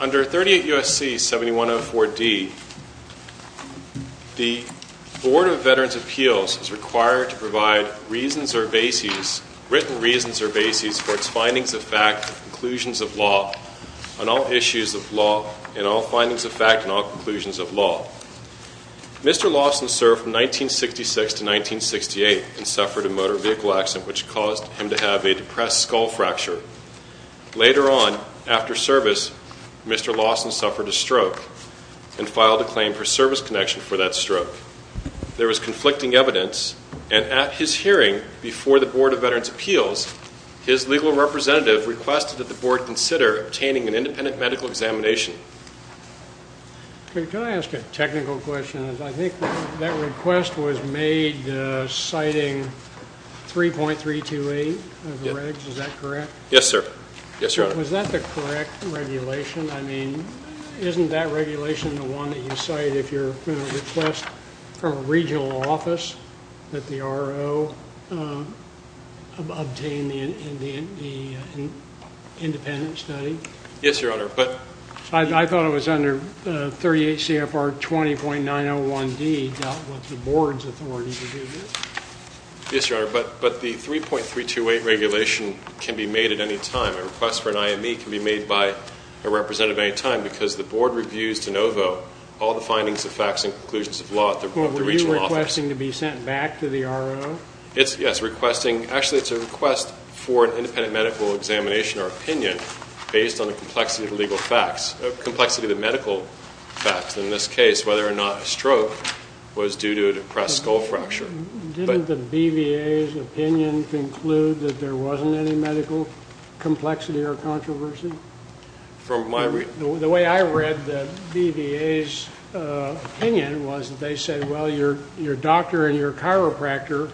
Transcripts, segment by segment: Under 38 U.S.C. 7104D, the Board of Veterans' Appeals is required to provide written reasons or bases for its findings of fact and conclusions of law. Mr. Lawson served from 1966 to 1968 and suffered a motor vehicle accident which caused him to have a depressed skull fracture. Later on, after service, Mr. Lawson suffered a stroke and filed a claim for service connection for that stroke. There was conflicting evidence, and at his hearing before the Board of Veterans' Appeals, his legal representative requested that the Board consider obtaining an independent medical examination. Can I ask a technical question? I think that request was made citing 3.328 of the regs, is that correct? Yes sir. Yes your honor. Was that the correct regulation? I mean, isn't that regulation the one that you cite if you're going to request from a independent study? Yes your honor. I thought it was under 38 CFR 20.901D, dealt with the Board's authority to do this. Yes your honor, but the 3.328 regulation can be made at any time. A request for an IME can be made by a representative at any time because the Board reviews de novo all the findings of facts and conclusions of law at the regional office. Were you requesting to be sent back to the RO? Yes, requesting, actually it's a request for an independent medical examination or opinion based on the complexity of the legal facts, complexity of the medical facts. In this case, whether or not a stroke was due to a depressed skull fracture. Didn't the BVA's opinion conclude that there wasn't any medical complexity or controversy? From my... The way I read the BVA's opinion was that they said, well, your doctor and your chiropractor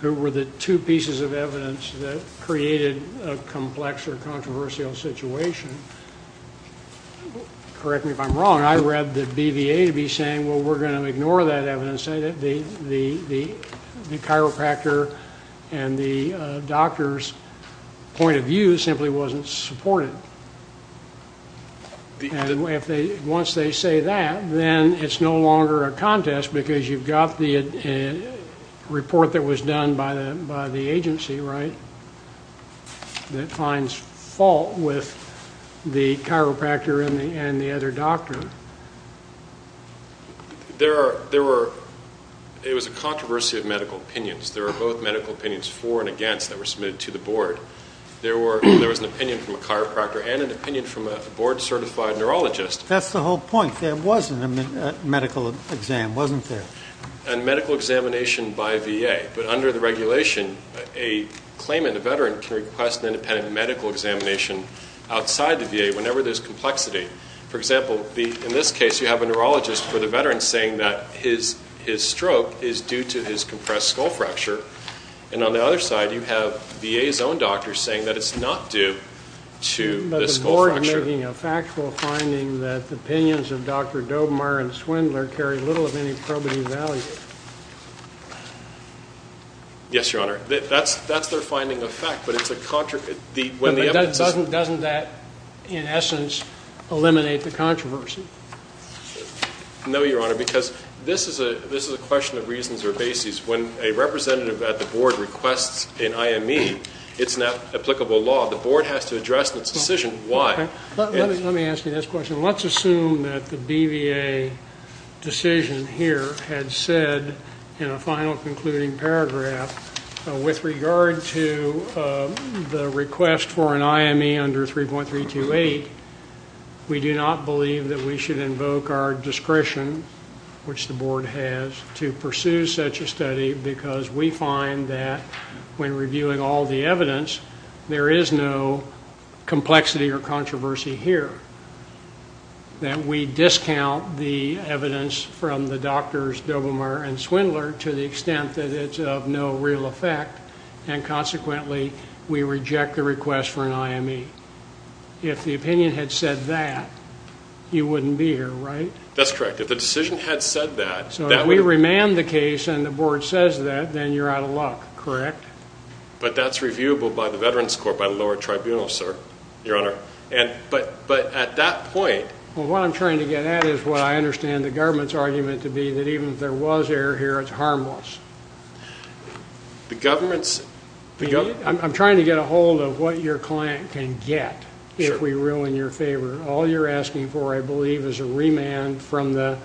who were the two pieces of evidence that created a complex or controversial situation. Correct me if I'm wrong, I read the BVA to be saying, well, we're going to ignore that evidence. The chiropractor and the doctor's point of view simply wasn't supported. Once they say that, then it's no longer a contest because you've got the report that was done by the agency, right? That finds fault with the chiropractor and the other doctor. There were, it was a controversy of medical opinions. There were both medical opinions for and against that were submitted to the board. There was an opinion from a chiropractor and an opinion from a board certified neurologist. That's the whole point, there wasn't a medical exam, wasn't there? A medical examination by VA, but under the regulation, a claimant, a veteran, can request an independent medical examination outside the VA whenever there's complexity. For example, in this case, you have a neurologist for the veteran saying that his stroke is due to his compressed skull fracture. And on the other side, you have VA's own doctor saying that it's not due to the skull fracture. But the board are making a factual finding that the opinions of Dr. Dobemire and Swindler carry little of any probity value. Yes, Your Honor. That's their finding of fact, but it's a contradiction. Doesn't that, in essence, eliminate the controversy? No, Your Honor, because this is a question of reasons or basis. When a representative at the board requests an IME, it's not applicable law. The board has to address its decision why. Let me ask you this question. Let's assume that the BVA decision here had said in a final concluding paragraph, with regard to the request for an IME under 3.328, we do not believe that we should invoke our discretion, which the board has, to pursue such a study, because we find that when reviewing all the evidence, there is no complexity or controversy here, that we discount the evidence from the doctors Dobemire and Swindler to the extent that it's of no real effect, and consequently, we reject the request for an IME. If the opinion had said that, you wouldn't be here, right? That's correct. So if we remand the case and the board says that, then you're out of luck, correct? But that's reviewable by the Veterans Court, by the lower tribunal, sir, Your Honor. But at that point… Well, what I'm trying to get at is what I understand the government's argument to be, that even if there was error here, it's harmless. The government's… I'm trying to get a hold of what your client can get if we ruin your favor. All you're asking for, I believe, is a remand through the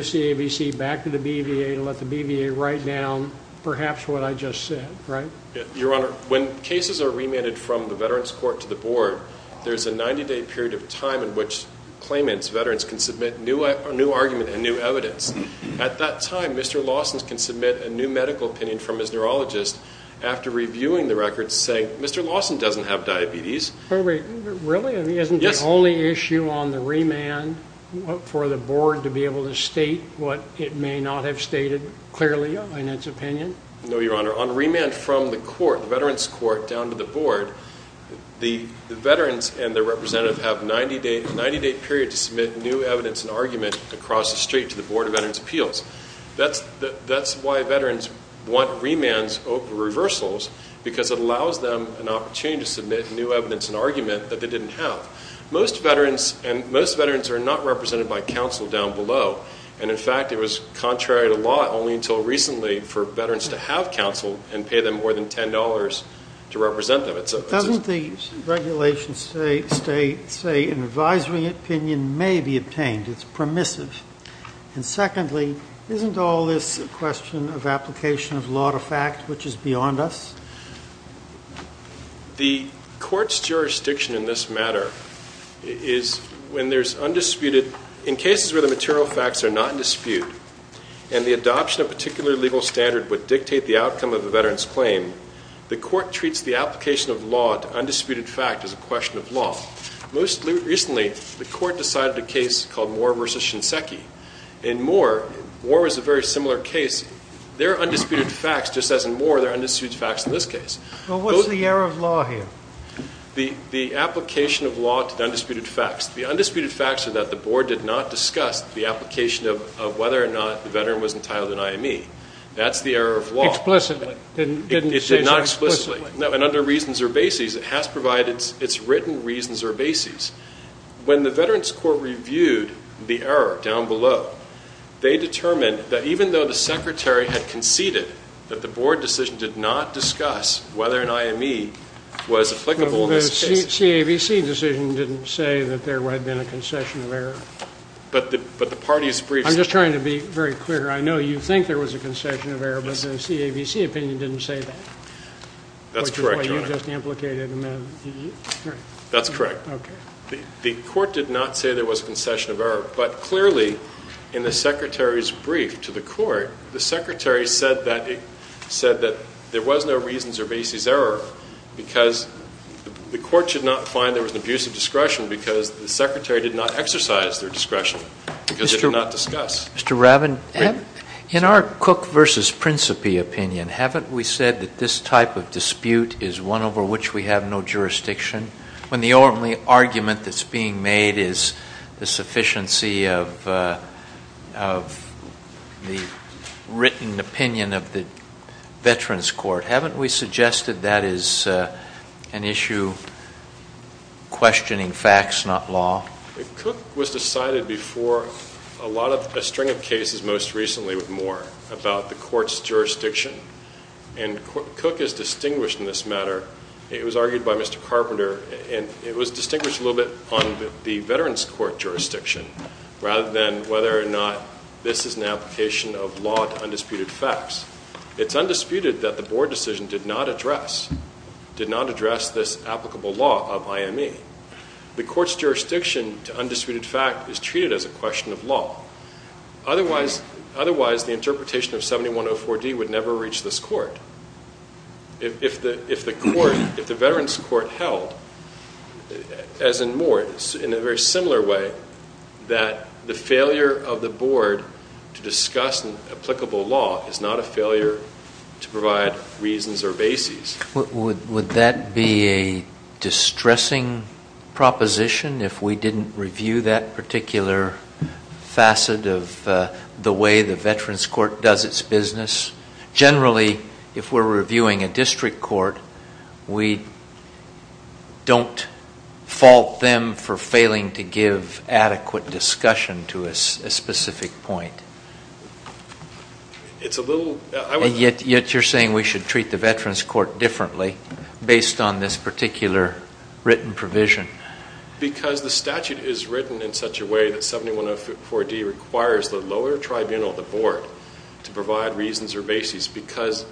CAVC back to the BVA to let the BVA write down perhaps what I just said, right? Your Honor, when cases are remanded from the Veterans Court to the board, there's a 90-day period of time in which claimants, veterans, can submit new argument and new evidence. At that time, Mr. Lawson can submit a new medical opinion from his neurologist after reviewing the records saying, Mr. Lawson doesn't have diabetes. Really? Isn't the only issue on the remand for the board to be able to state what it may not have stated clearly in its opinion? No, Your Honor. On remand from the court, the Veterans Court down to the board, the veterans and their representative have a 90-day period to submit new evidence and argument across the street to the Board of Veterans' Appeals. That's why veterans want remands over reversals because it allows them an opportunity to submit new evidence and argument that they didn't have. Most veterans are not represented by counsel down below, and in fact it was contrary to law only until recently for veterans to have counsel and pay them more than $10 to represent them. Doesn't the regulation say an advisory opinion may be obtained? It's permissive. And secondly, isn't all this a question of application of law to fact which is beyond us? The court's jurisdiction in this matter is when there's undisputed in cases where the material facts are not in dispute and the adoption of a particular legal standard would dictate the outcome of a veteran's claim, the court treats the application of law to undisputed fact as a question of law. Most recently, the court decided a case called Moore v. Shinseki. In Moore, Moore was a very similar case. There are undisputed facts just as in Moore there are undisputed facts in this case. Well, what's the error of law here? The application of law to undisputed facts. The undisputed facts are that the board did not discuss the application of whether or not the veteran was entitled to an IME. That's the error of law. Explicitly. It did not explicitly. No, and under reasons or bases, it has provided its written reasons or bases. When the Veterans Court reviewed the error down below, they determined that even though the secretary had conceded that the board decision did not discuss whether an IME was applicable in this case. The CAVC decision didn't say that there had been a concession of error. But the party's briefs. I'm just trying to be very clear. I know you think there was a concession of error, but the CAVC opinion didn't say that. That's correct, Your Honor. Which is what you just implicated. That's correct. Okay. The court did not say there was a concession of error, but clearly in the secretary's brief to the court, the secretary said that there was no reasons or bases error because the court should not find there was an abuse of discretion because the secretary did not exercise their discretion because it did not discuss. Mr. Rabin, in our Cook versus Principe opinion, haven't we said that this type of dispute is one over which we have no jurisdiction, when the only argument that's being made is the sufficiency of the written opinion of the Veterans Court? Haven't we suggested that is an issue questioning facts, not law? Cook was decided before a string of cases most recently with Moore about the court's jurisdiction, and Cook is distinguished in this matter. It was argued by Mr. Carpenter, and it was distinguished a little bit on the Veterans Court jurisdiction rather than whether or not this is an application of law to undisputed facts. It's undisputed that the board decision did not address this applicable law of IME. The court's jurisdiction to undisputed fact is treated as a question of law. Otherwise, the interpretation of 7104D would never reach this court. If the Veterans Court held, as in Moore, in a very similar way, that the failure of the board to discuss applicable law is not a failure to provide reasons or bases. Would that be a distressing proposition if we didn't review that particular facet of the way the Veterans Court does its business? Generally, if we're reviewing a district court, we don't fault them for failing to give adequate discussion to a specific point. Yet you're saying we should treat the Veterans Court differently based on this particular written provision. Because the statute is written in such a way that 7104D requires the lower tribunal, the board, to provide reasons or bases because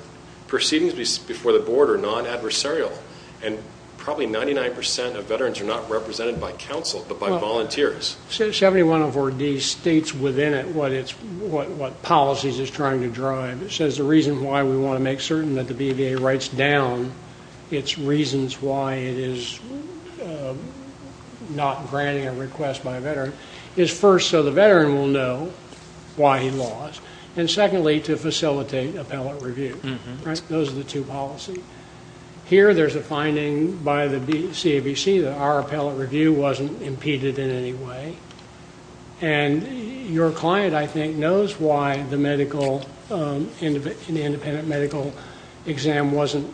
proceedings before the board are non-adversarial, and probably 99% of veterans are not represented by counsel but by volunteers. 7104D states within it what policies it's trying to drive. It says the reason why we want to make certain that the BVA writes down its reasons why it is not granting a request by a veteran is first so the veteran will know why he lost, and secondly to facilitate appellate review. Those are the two policies. Here there's a finding by the CAVC that our appellate review wasn't impeded in any way, and your client, I think, knows why the independent medical exam wasn't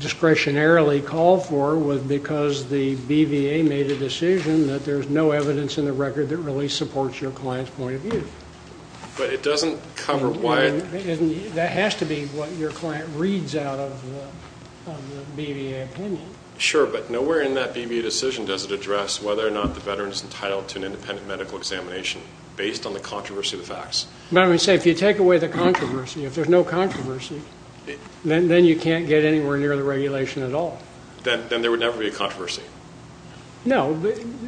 discretionarily called for because the BVA made a decision that there's no evidence in the record that really supports your client's point of view. But it doesn't cover why... That has to be what your client reads out of the BVA opinion. Sure, but nowhere in that BVA decision does it address whether or not the veteran is entitled to an independent medical examination based on the controversy of the facts. But I would say if you take away the controversy, if there's no controversy, then you can't get anywhere near the regulation at all. Then there would never be a controversy. No,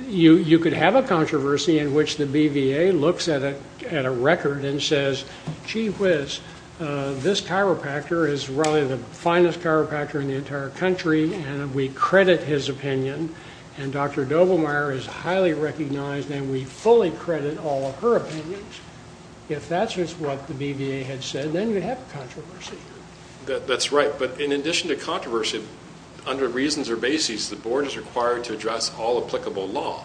you could have a controversy in which the BVA looks at a record and says, gee whiz, this chiropractor is really the finest chiropractor in the entire country, and we credit his opinion, and Dr. Doblemeyer is highly recognized, and we fully credit all of her opinions. If that's what the BVA had said, then you'd have a controversy. That's right. But in addition to controversy, under reasons or basis, the board is required to address all applicable law.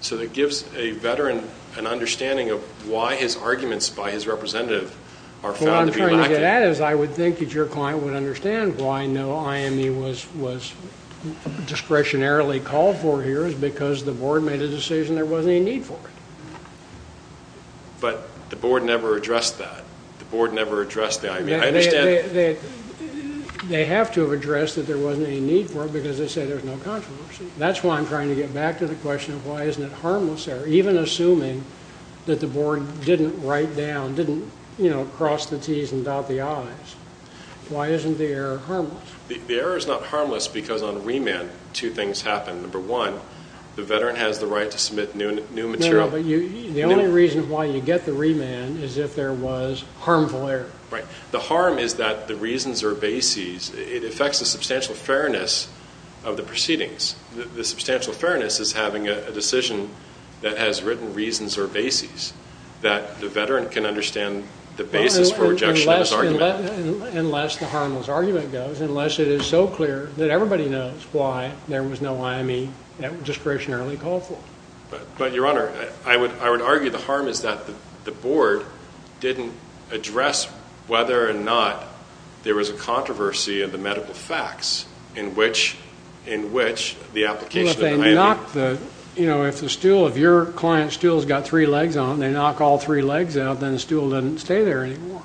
So that gives a veteran an understanding of why his arguments by his representative are found to be lacking. What I'm trying to get at is I would think that your client would understand why no IME was discretionarily called for here is because the board made a decision there wasn't any need for it. But the board never addressed that. The board never addressed the IME. They have to have addressed that there wasn't any need for it because they said there was no controversy. That's why I'm trying to get back to the question of why isn't it harmless there, even assuming that the board didn't write down, didn't cross the T's and dot the I's. Why isn't the error harmless? The error is not harmless because on remand two things happen. Number one, the veteran has the right to submit new material. The only reason why you get the remand is if there was harmful error. Right. The harm is that the reasons are bases. It affects the substantial fairness of the proceedings. The substantial fairness is having a decision that has written reasons or bases that the veteran can understand the basis for rejection of his argument. Unless the harmless argument goes, unless it is so clear that everybody knows why there was no IME that was discretionarily called for. But, Your Honor, I would argue the harm is that the board didn't address whether or not there was a controversy of the medical facts in which the application of the IME. Well, if they knock the, you know, if the stool, if your client's stool has got three legs on it and they knock all three legs out, then the stool doesn't stay there anymore.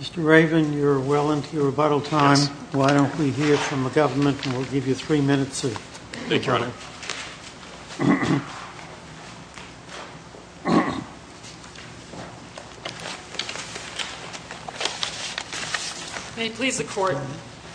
Mr. Raven, you're well into your rebuttal time. Yes. Well, why don't we hear from the government and we'll give you three minutes. Thank you, Your Honor. May it please the court.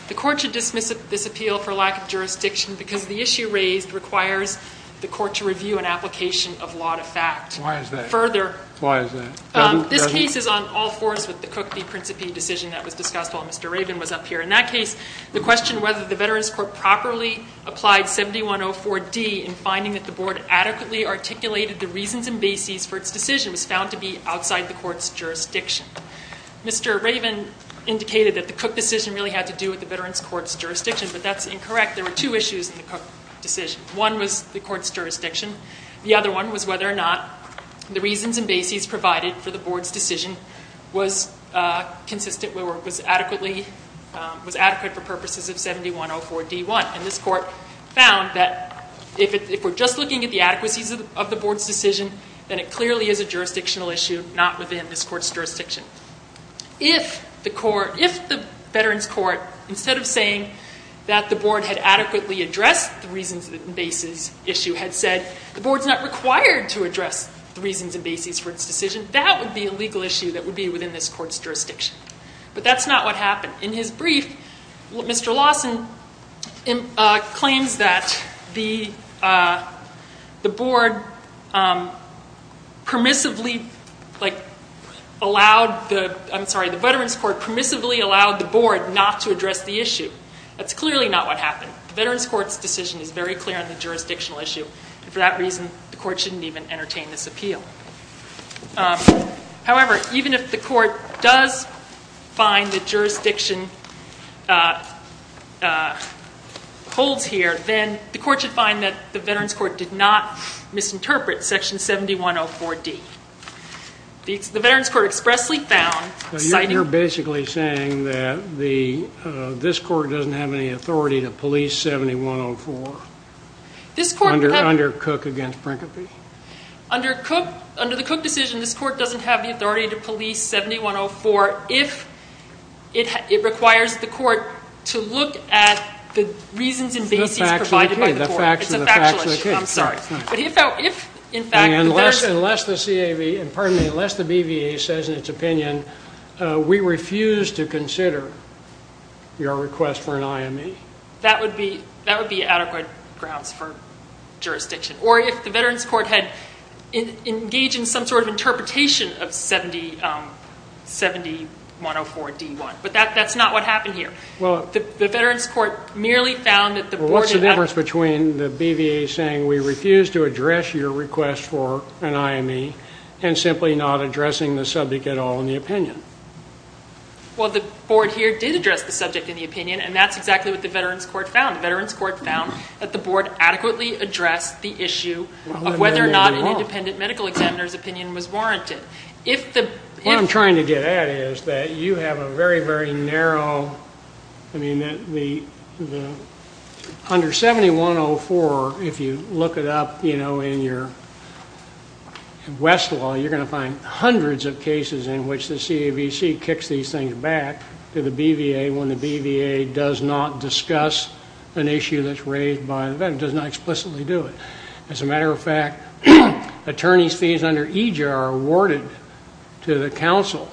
The court should dismiss this appeal for lack of jurisdiction because the issue raised requires the court to review an application of law to fact. Why is that? Further. Why is that? This case is on all fours with the Cooke v. Principe decision that was discussed while Mr. Raven was up here. In that case, the question whether the Veterans Court properly applied 7104D in finding that the board adequately articulated the reasons and bases for its decision was found to be outside the court's jurisdiction. Mr. Raven indicated that the Cooke decision really had to do with the Veterans Court's jurisdiction, but that's incorrect. There were two issues in the Cooke decision. One was the court's jurisdiction. The other one was whether or not the reasons and bases provided for the board's decision was adequate for purposes of 7104D1. And this court found that if we're just looking at the adequacies of the board's decision, then it clearly is a jurisdictional issue not within this court's jurisdiction. If the Veterans Court, instead of saying that the board had adequately addressed the reasons and bases issue, had said the board's not required to address the reasons and bases for its decision, that would be a legal issue that would be within this court's jurisdiction. But that's not what happened. In his brief, Mr. Lawson claims that the board permissively allowed the board not to address the issue. That's clearly not what happened. The Veterans Court's decision is very clear on the jurisdictional issue. For that reason, the court shouldn't even entertain this appeal. However, even if the court does find the jurisdiction holds here, then the court should find that the Veterans Court did not misinterpret Section 7104D. The Veterans Court expressly found, citing- You're basically saying that this court doesn't have any authority to police 7104. This court- Under Cooke against Brinkley. Under the Cooke decision, this court doesn't have the authority to police 7104 if it requires the court to look at the reasons and bases provided by the court. It's a factual issue. I'm sorry. But if, in fact- Unless the BVA says in its opinion, we refuse to consider your request for an IME. That would be adequate grounds for jurisdiction. Or if the Veterans Court had engaged in some sort of interpretation of 7104D1. But that's not what happened here. The Veterans Court merely found that the board- What's the difference between the BVA saying, we refuse to address your request for an IME, and simply not addressing the subject at all in the opinion? Well, the board here did address the subject in the opinion, and that's exactly what the Veterans Court found. The Veterans Court found that the board adequately addressed the issue of whether or not an independent medical examiner's opinion was warranted. If the- What I'm trying to get at is that you have a very, very narrow- Under 7104, if you look it up in your Westlaw, you're going to find hundreds of cases in which the CAVC kicks these things back to the BVA when the BVA does not discuss an issue that's raised by the veteran, does not explicitly do it. As a matter of fact, attorney's fees under EJR are awarded to the counsel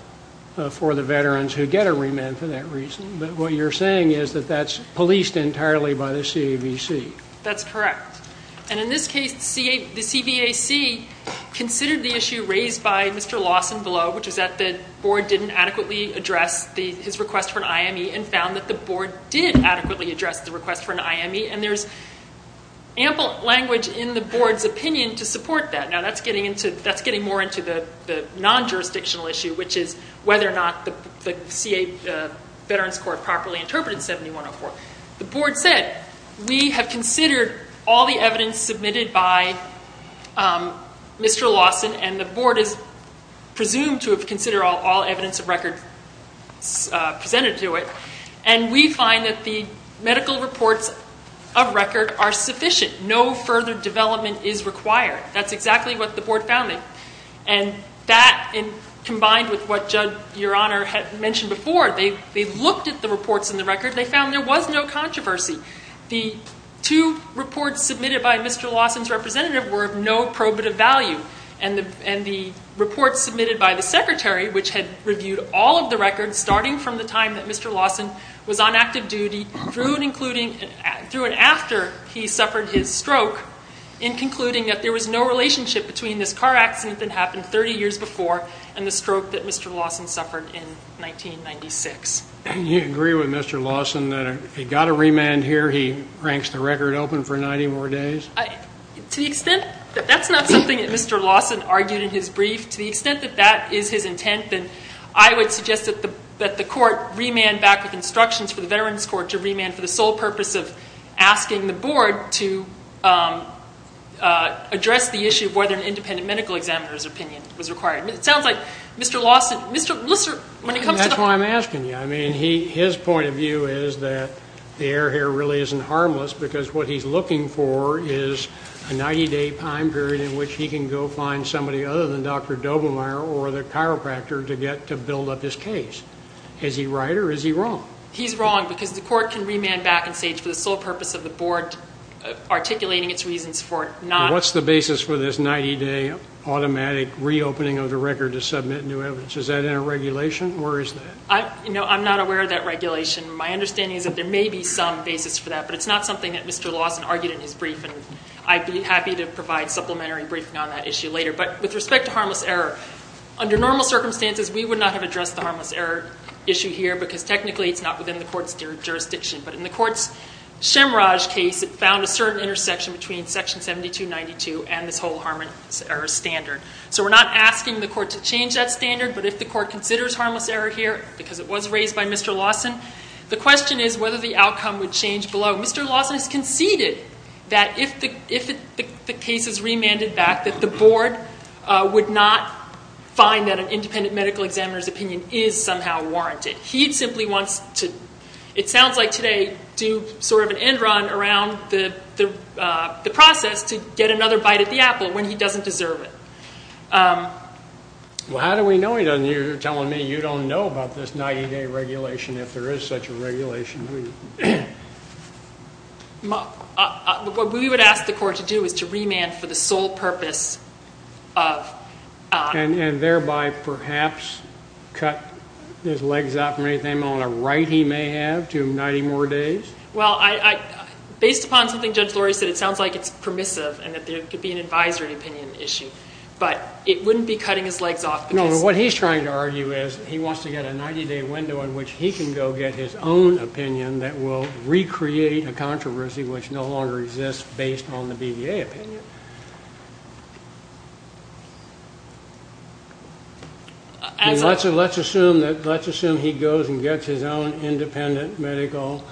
for the veterans who get a remand for that reason. What you're saying is that that's policed entirely by the CAVC. That's correct. And in this case, the CVAC considered the issue raised by Mr. Lawson below, which is that the board didn't adequately address his request for an IME, and found that the board did adequately address the request for an IME, and there's ample language in the board's opinion to support that. Now, that's getting more into the non-jurisdictional issue, which is whether or not the CA Veterans Court properly interpreted 7104. The board said, we have considered all the evidence submitted by Mr. Lawson, and the board is presumed to have considered all evidence of record presented to it, and we find that the medical reports of record are sufficient. No further development is required. That's exactly what the board found. And that, combined with what Judge Your Honor had mentioned before, they looked at the reports in the record. They found there was no controversy. The two reports submitted by Mr. Lawson's representative were of no probative value, and the report submitted by the secretary, which had reviewed all of the records starting from the time that Mr. Lawson was on active duty, he drew an after he suffered his stroke in concluding that there was no relationship between this car accident that happened 30 years before and the stroke that Mr. Lawson suffered in 1996. Do you agree with Mr. Lawson that if he got a remand here, he ranks the record open for 90 more days? To the extent that that's not something that Mr. Lawson argued in his brief, to the extent that that is his intent, then I would suggest that the court remand back with instructions for the Veterans Court to remand for the sole purpose of asking the board to address the issue of whether an independent medical examiner's opinion was required. It sounds like Mr. Lawson, Mr. Lisser, when it comes to the board. That's why I'm asking you. I mean, his point of view is that the air here really isn't harmless because what he's looking for is a 90-day time period in which he can go find somebody other than Dr. Dobermire or the chiropractor to get to build up his case. Is he right or is he wrong? He's wrong because the court can remand back and say it's for the sole purpose of the board articulating its reasons for not. What's the basis for this 90-day automatic reopening of the record to submit new evidence? Is that in a regulation or is that? I'm not aware of that regulation. My understanding is that there may be some basis for that, but it's not something that Mr. Lawson argued in his brief. And I'd be happy to provide supplementary briefing on that issue later. But with respect to harmless error, under normal circumstances, we would not have addressed the harmless error issue here because technically it's not within the court's jurisdiction. But in the court's Shemraj case, it found a certain intersection between Section 7292 and this whole harmless error standard. So we're not asking the court to change that standard. But if the court considers harmless error here because it was raised by Mr. Lawson, the question is whether the outcome would change below. Mr. Lawson has conceded that if the case is remanded back, that the board would not find that an independent medical examiner's opinion is somehow warranted. He simply wants to, it sounds like today, do sort of an end run around the process to get another bite at the apple when he doesn't deserve it. Well, how do we know he doesn't? You're telling me you don't know about this 90-day regulation, if there is such a regulation. What we would ask the court to do is to remand for the sole purpose of... And thereby, perhaps, cut his legs off from anything on the right he may have to 90 more days? Well, based upon something Judge Lori said, it sounds like it's permissive and that there could be an advisory opinion issue. But it wouldn't be cutting his legs off because... No, what he's trying to argue is he wants to get a 90-day window in which he can go get his own opinion that will recreate a controversy which no longer exists based on the BVA opinion. Let's assume he goes and gets his own independent medical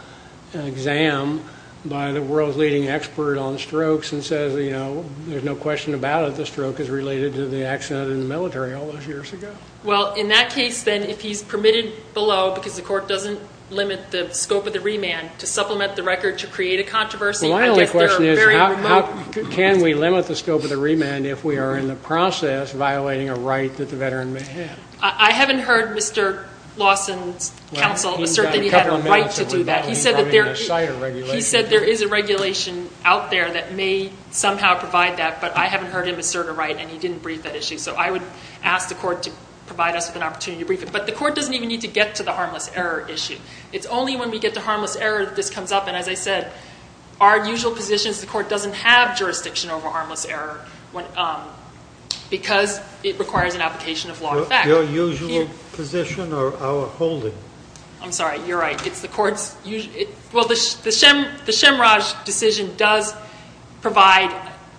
exam by the world's leading expert on strokes and says, you know, there's no question about it, the stroke is related to the accident in the military all those years ago. Well, in that case, then, if he's permitted below because the court doesn't limit the scope of the remand to supplement the record to create a controversy... Well, my only question is how can we limit the scope of the remand if we are in the process of violating a right that the veteran may have? I haven't heard Mr. Lawson's counsel assert that he had a right to do that. He said there is a regulation out there that may somehow provide that, but I haven't heard him assert a right and he didn't brief that issue. So I would ask the court to provide us with an opportunity to brief it. But the court doesn't even need to get to the harmless error issue. It's only when we get to harmless error that this comes up. And as I said, our usual position is the court doesn't have jurisdiction over harmless error because it requires an application of law and fact. Your usual position or our holding? I'm sorry. You're right. It's the court's usual. Well, the Shemraj decision does provide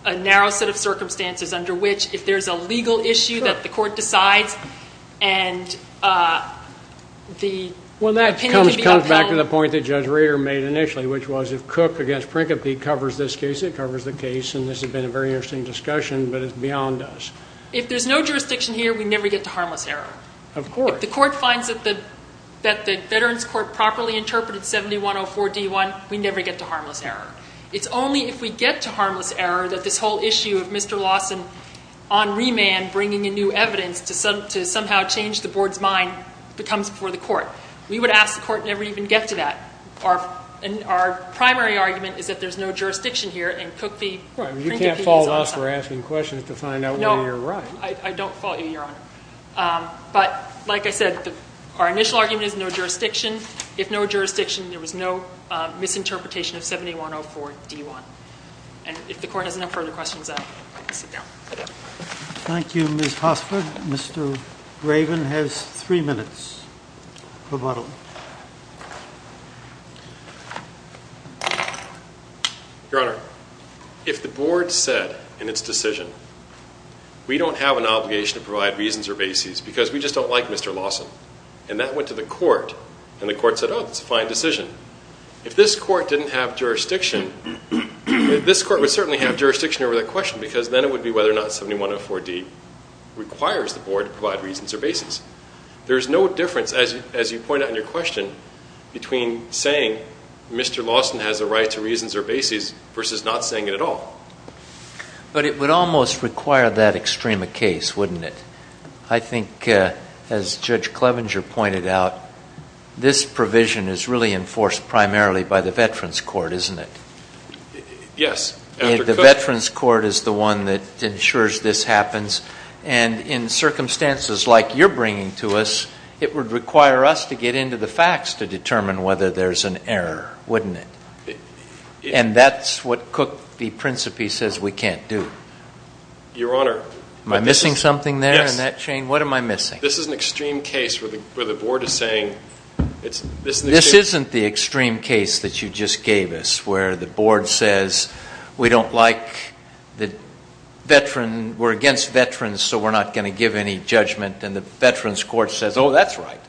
a narrow set of circumstances under which if there's a legal issue that the court decides and the opinion can be upheld. Well, that comes back to the point that Judge Rader made initially, which was if Cook against Principe covers this case, it covers the case. And this has been a very interesting discussion, but it's beyond us. If there's no jurisdiction here, we never get to harmless error. Of course. If the court finds that the Veterans Court properly interpreted 7104D1, we never get to harmless error. It's only if we get to harmless error that this whole issue of Mr. Lawson on remand bringing in new evidence to somehow change the board's mind becomes before the court. We would ask the court never even get to that. Our primary argument is that there's no jurisdiction here and Cook v. Principe is on the side. You can't fault us for asking questions to find out whether you're right. No, I don't fault you, Your Honor. But, like I said, our initial argument is no jurisdiction. If no jurisdiction, there was no misinterpretation of 7104D1. And if the court has no further questions, I'd like to sit down. Thank you, Ms. Hosford. Mr. Raven has three minutes. Your Honor, if the board said in its decision, we don't have an obligation to provide reasons or bases because we just don't like Mr. Lawson. And that went to the court, and the court said, oh, that's a fine decision. If this court didn't have jurisdiction, this court would certainly have jurisdiction over that question because then it would be whether or not 7104D requires the board to provide reasons or bases. There's no difference, as you pointed out in your question, between saying Mr. Lawson has a right to reasons or bases versus not saying it at all. But it would almost require that extrema case, wouldn't it? I think, as Judge Clevenger pointed out, this provision is really enforced primarily by the Veterans Court, isn't it? Yes. The Veterans Court is the one that ensures this happens. And in circumstances like you're bringing to us, it would require us to get into the facts to determine whether there's an error, wouldn't it? And that's what Cook v. Principe says we can't do. Your Honor. Am I missing something there in that chain? Yes. What am I missing? This is an extreme case where the board is saying it's an extreme case. This isn't the extreme case that you just gave us where the board says we don't like the veteran, we're against veterans so we're not going to give any judgment. And the Veterans Court says, oh, that's right.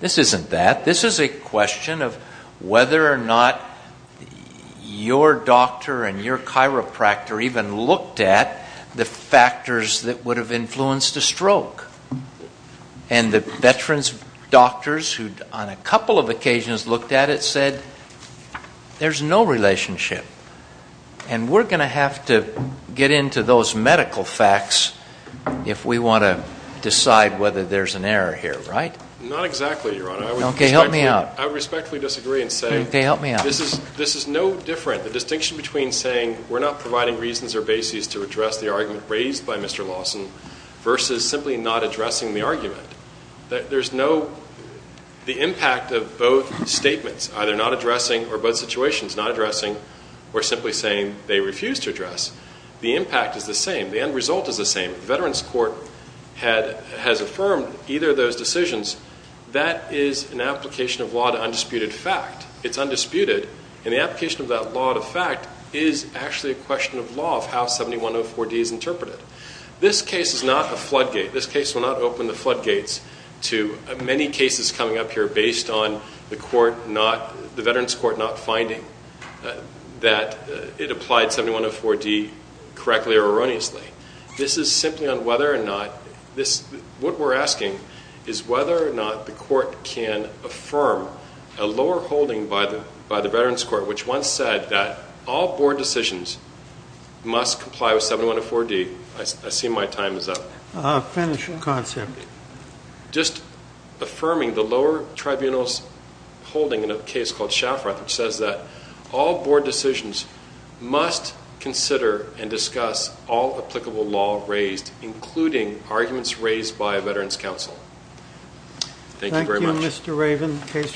This isn't that. This is a question of whether or not your doctor and your chiropractor even looked at the factors that would have influenced a stroke. And the veterans' doctors, who on a couple of occasions looked at it, said there's no relationship. And we're going to have to get into those medical facts if we want to decide whether there's an error here, right? Not exactly, Your Honor. Okay, help me out. I respectfully disagree in saying this is no different. The distinction between saying we're not providing reasons or bases to address the argument raised by Mr. Lawson versus simply not addressing the argument. There's no impact of both statements, either not addressing or both situations not addressing or simply saying they refuse to address. The impact is the same. The end result is the same. Veterans Court has affirmed either of those decisions. That is an application of law to undisputed fact. It's undisputed, and the application of that law to fact is actually a question of law of how 7104D is interpreted. This case is not a floodgate. This case will not open the floodgates to many cases coming up here based on the Veterans Court not finding that it applied 7104D correctly or erroneously. This is simply on whether or not this what we're asking is whether or not the court can affirm a lower holding by the Veterans Court, which once said that all board decisions must comply with 7104D. I see my time is up. Finish your concept. Just affirming the lower tribunal's holding in a case called Shaffroth, which says that all board decisions must consider and discuss all applicable law raised, including arguments raised by Veterans Council. Thank you very much. Thank you, Mr. Raven.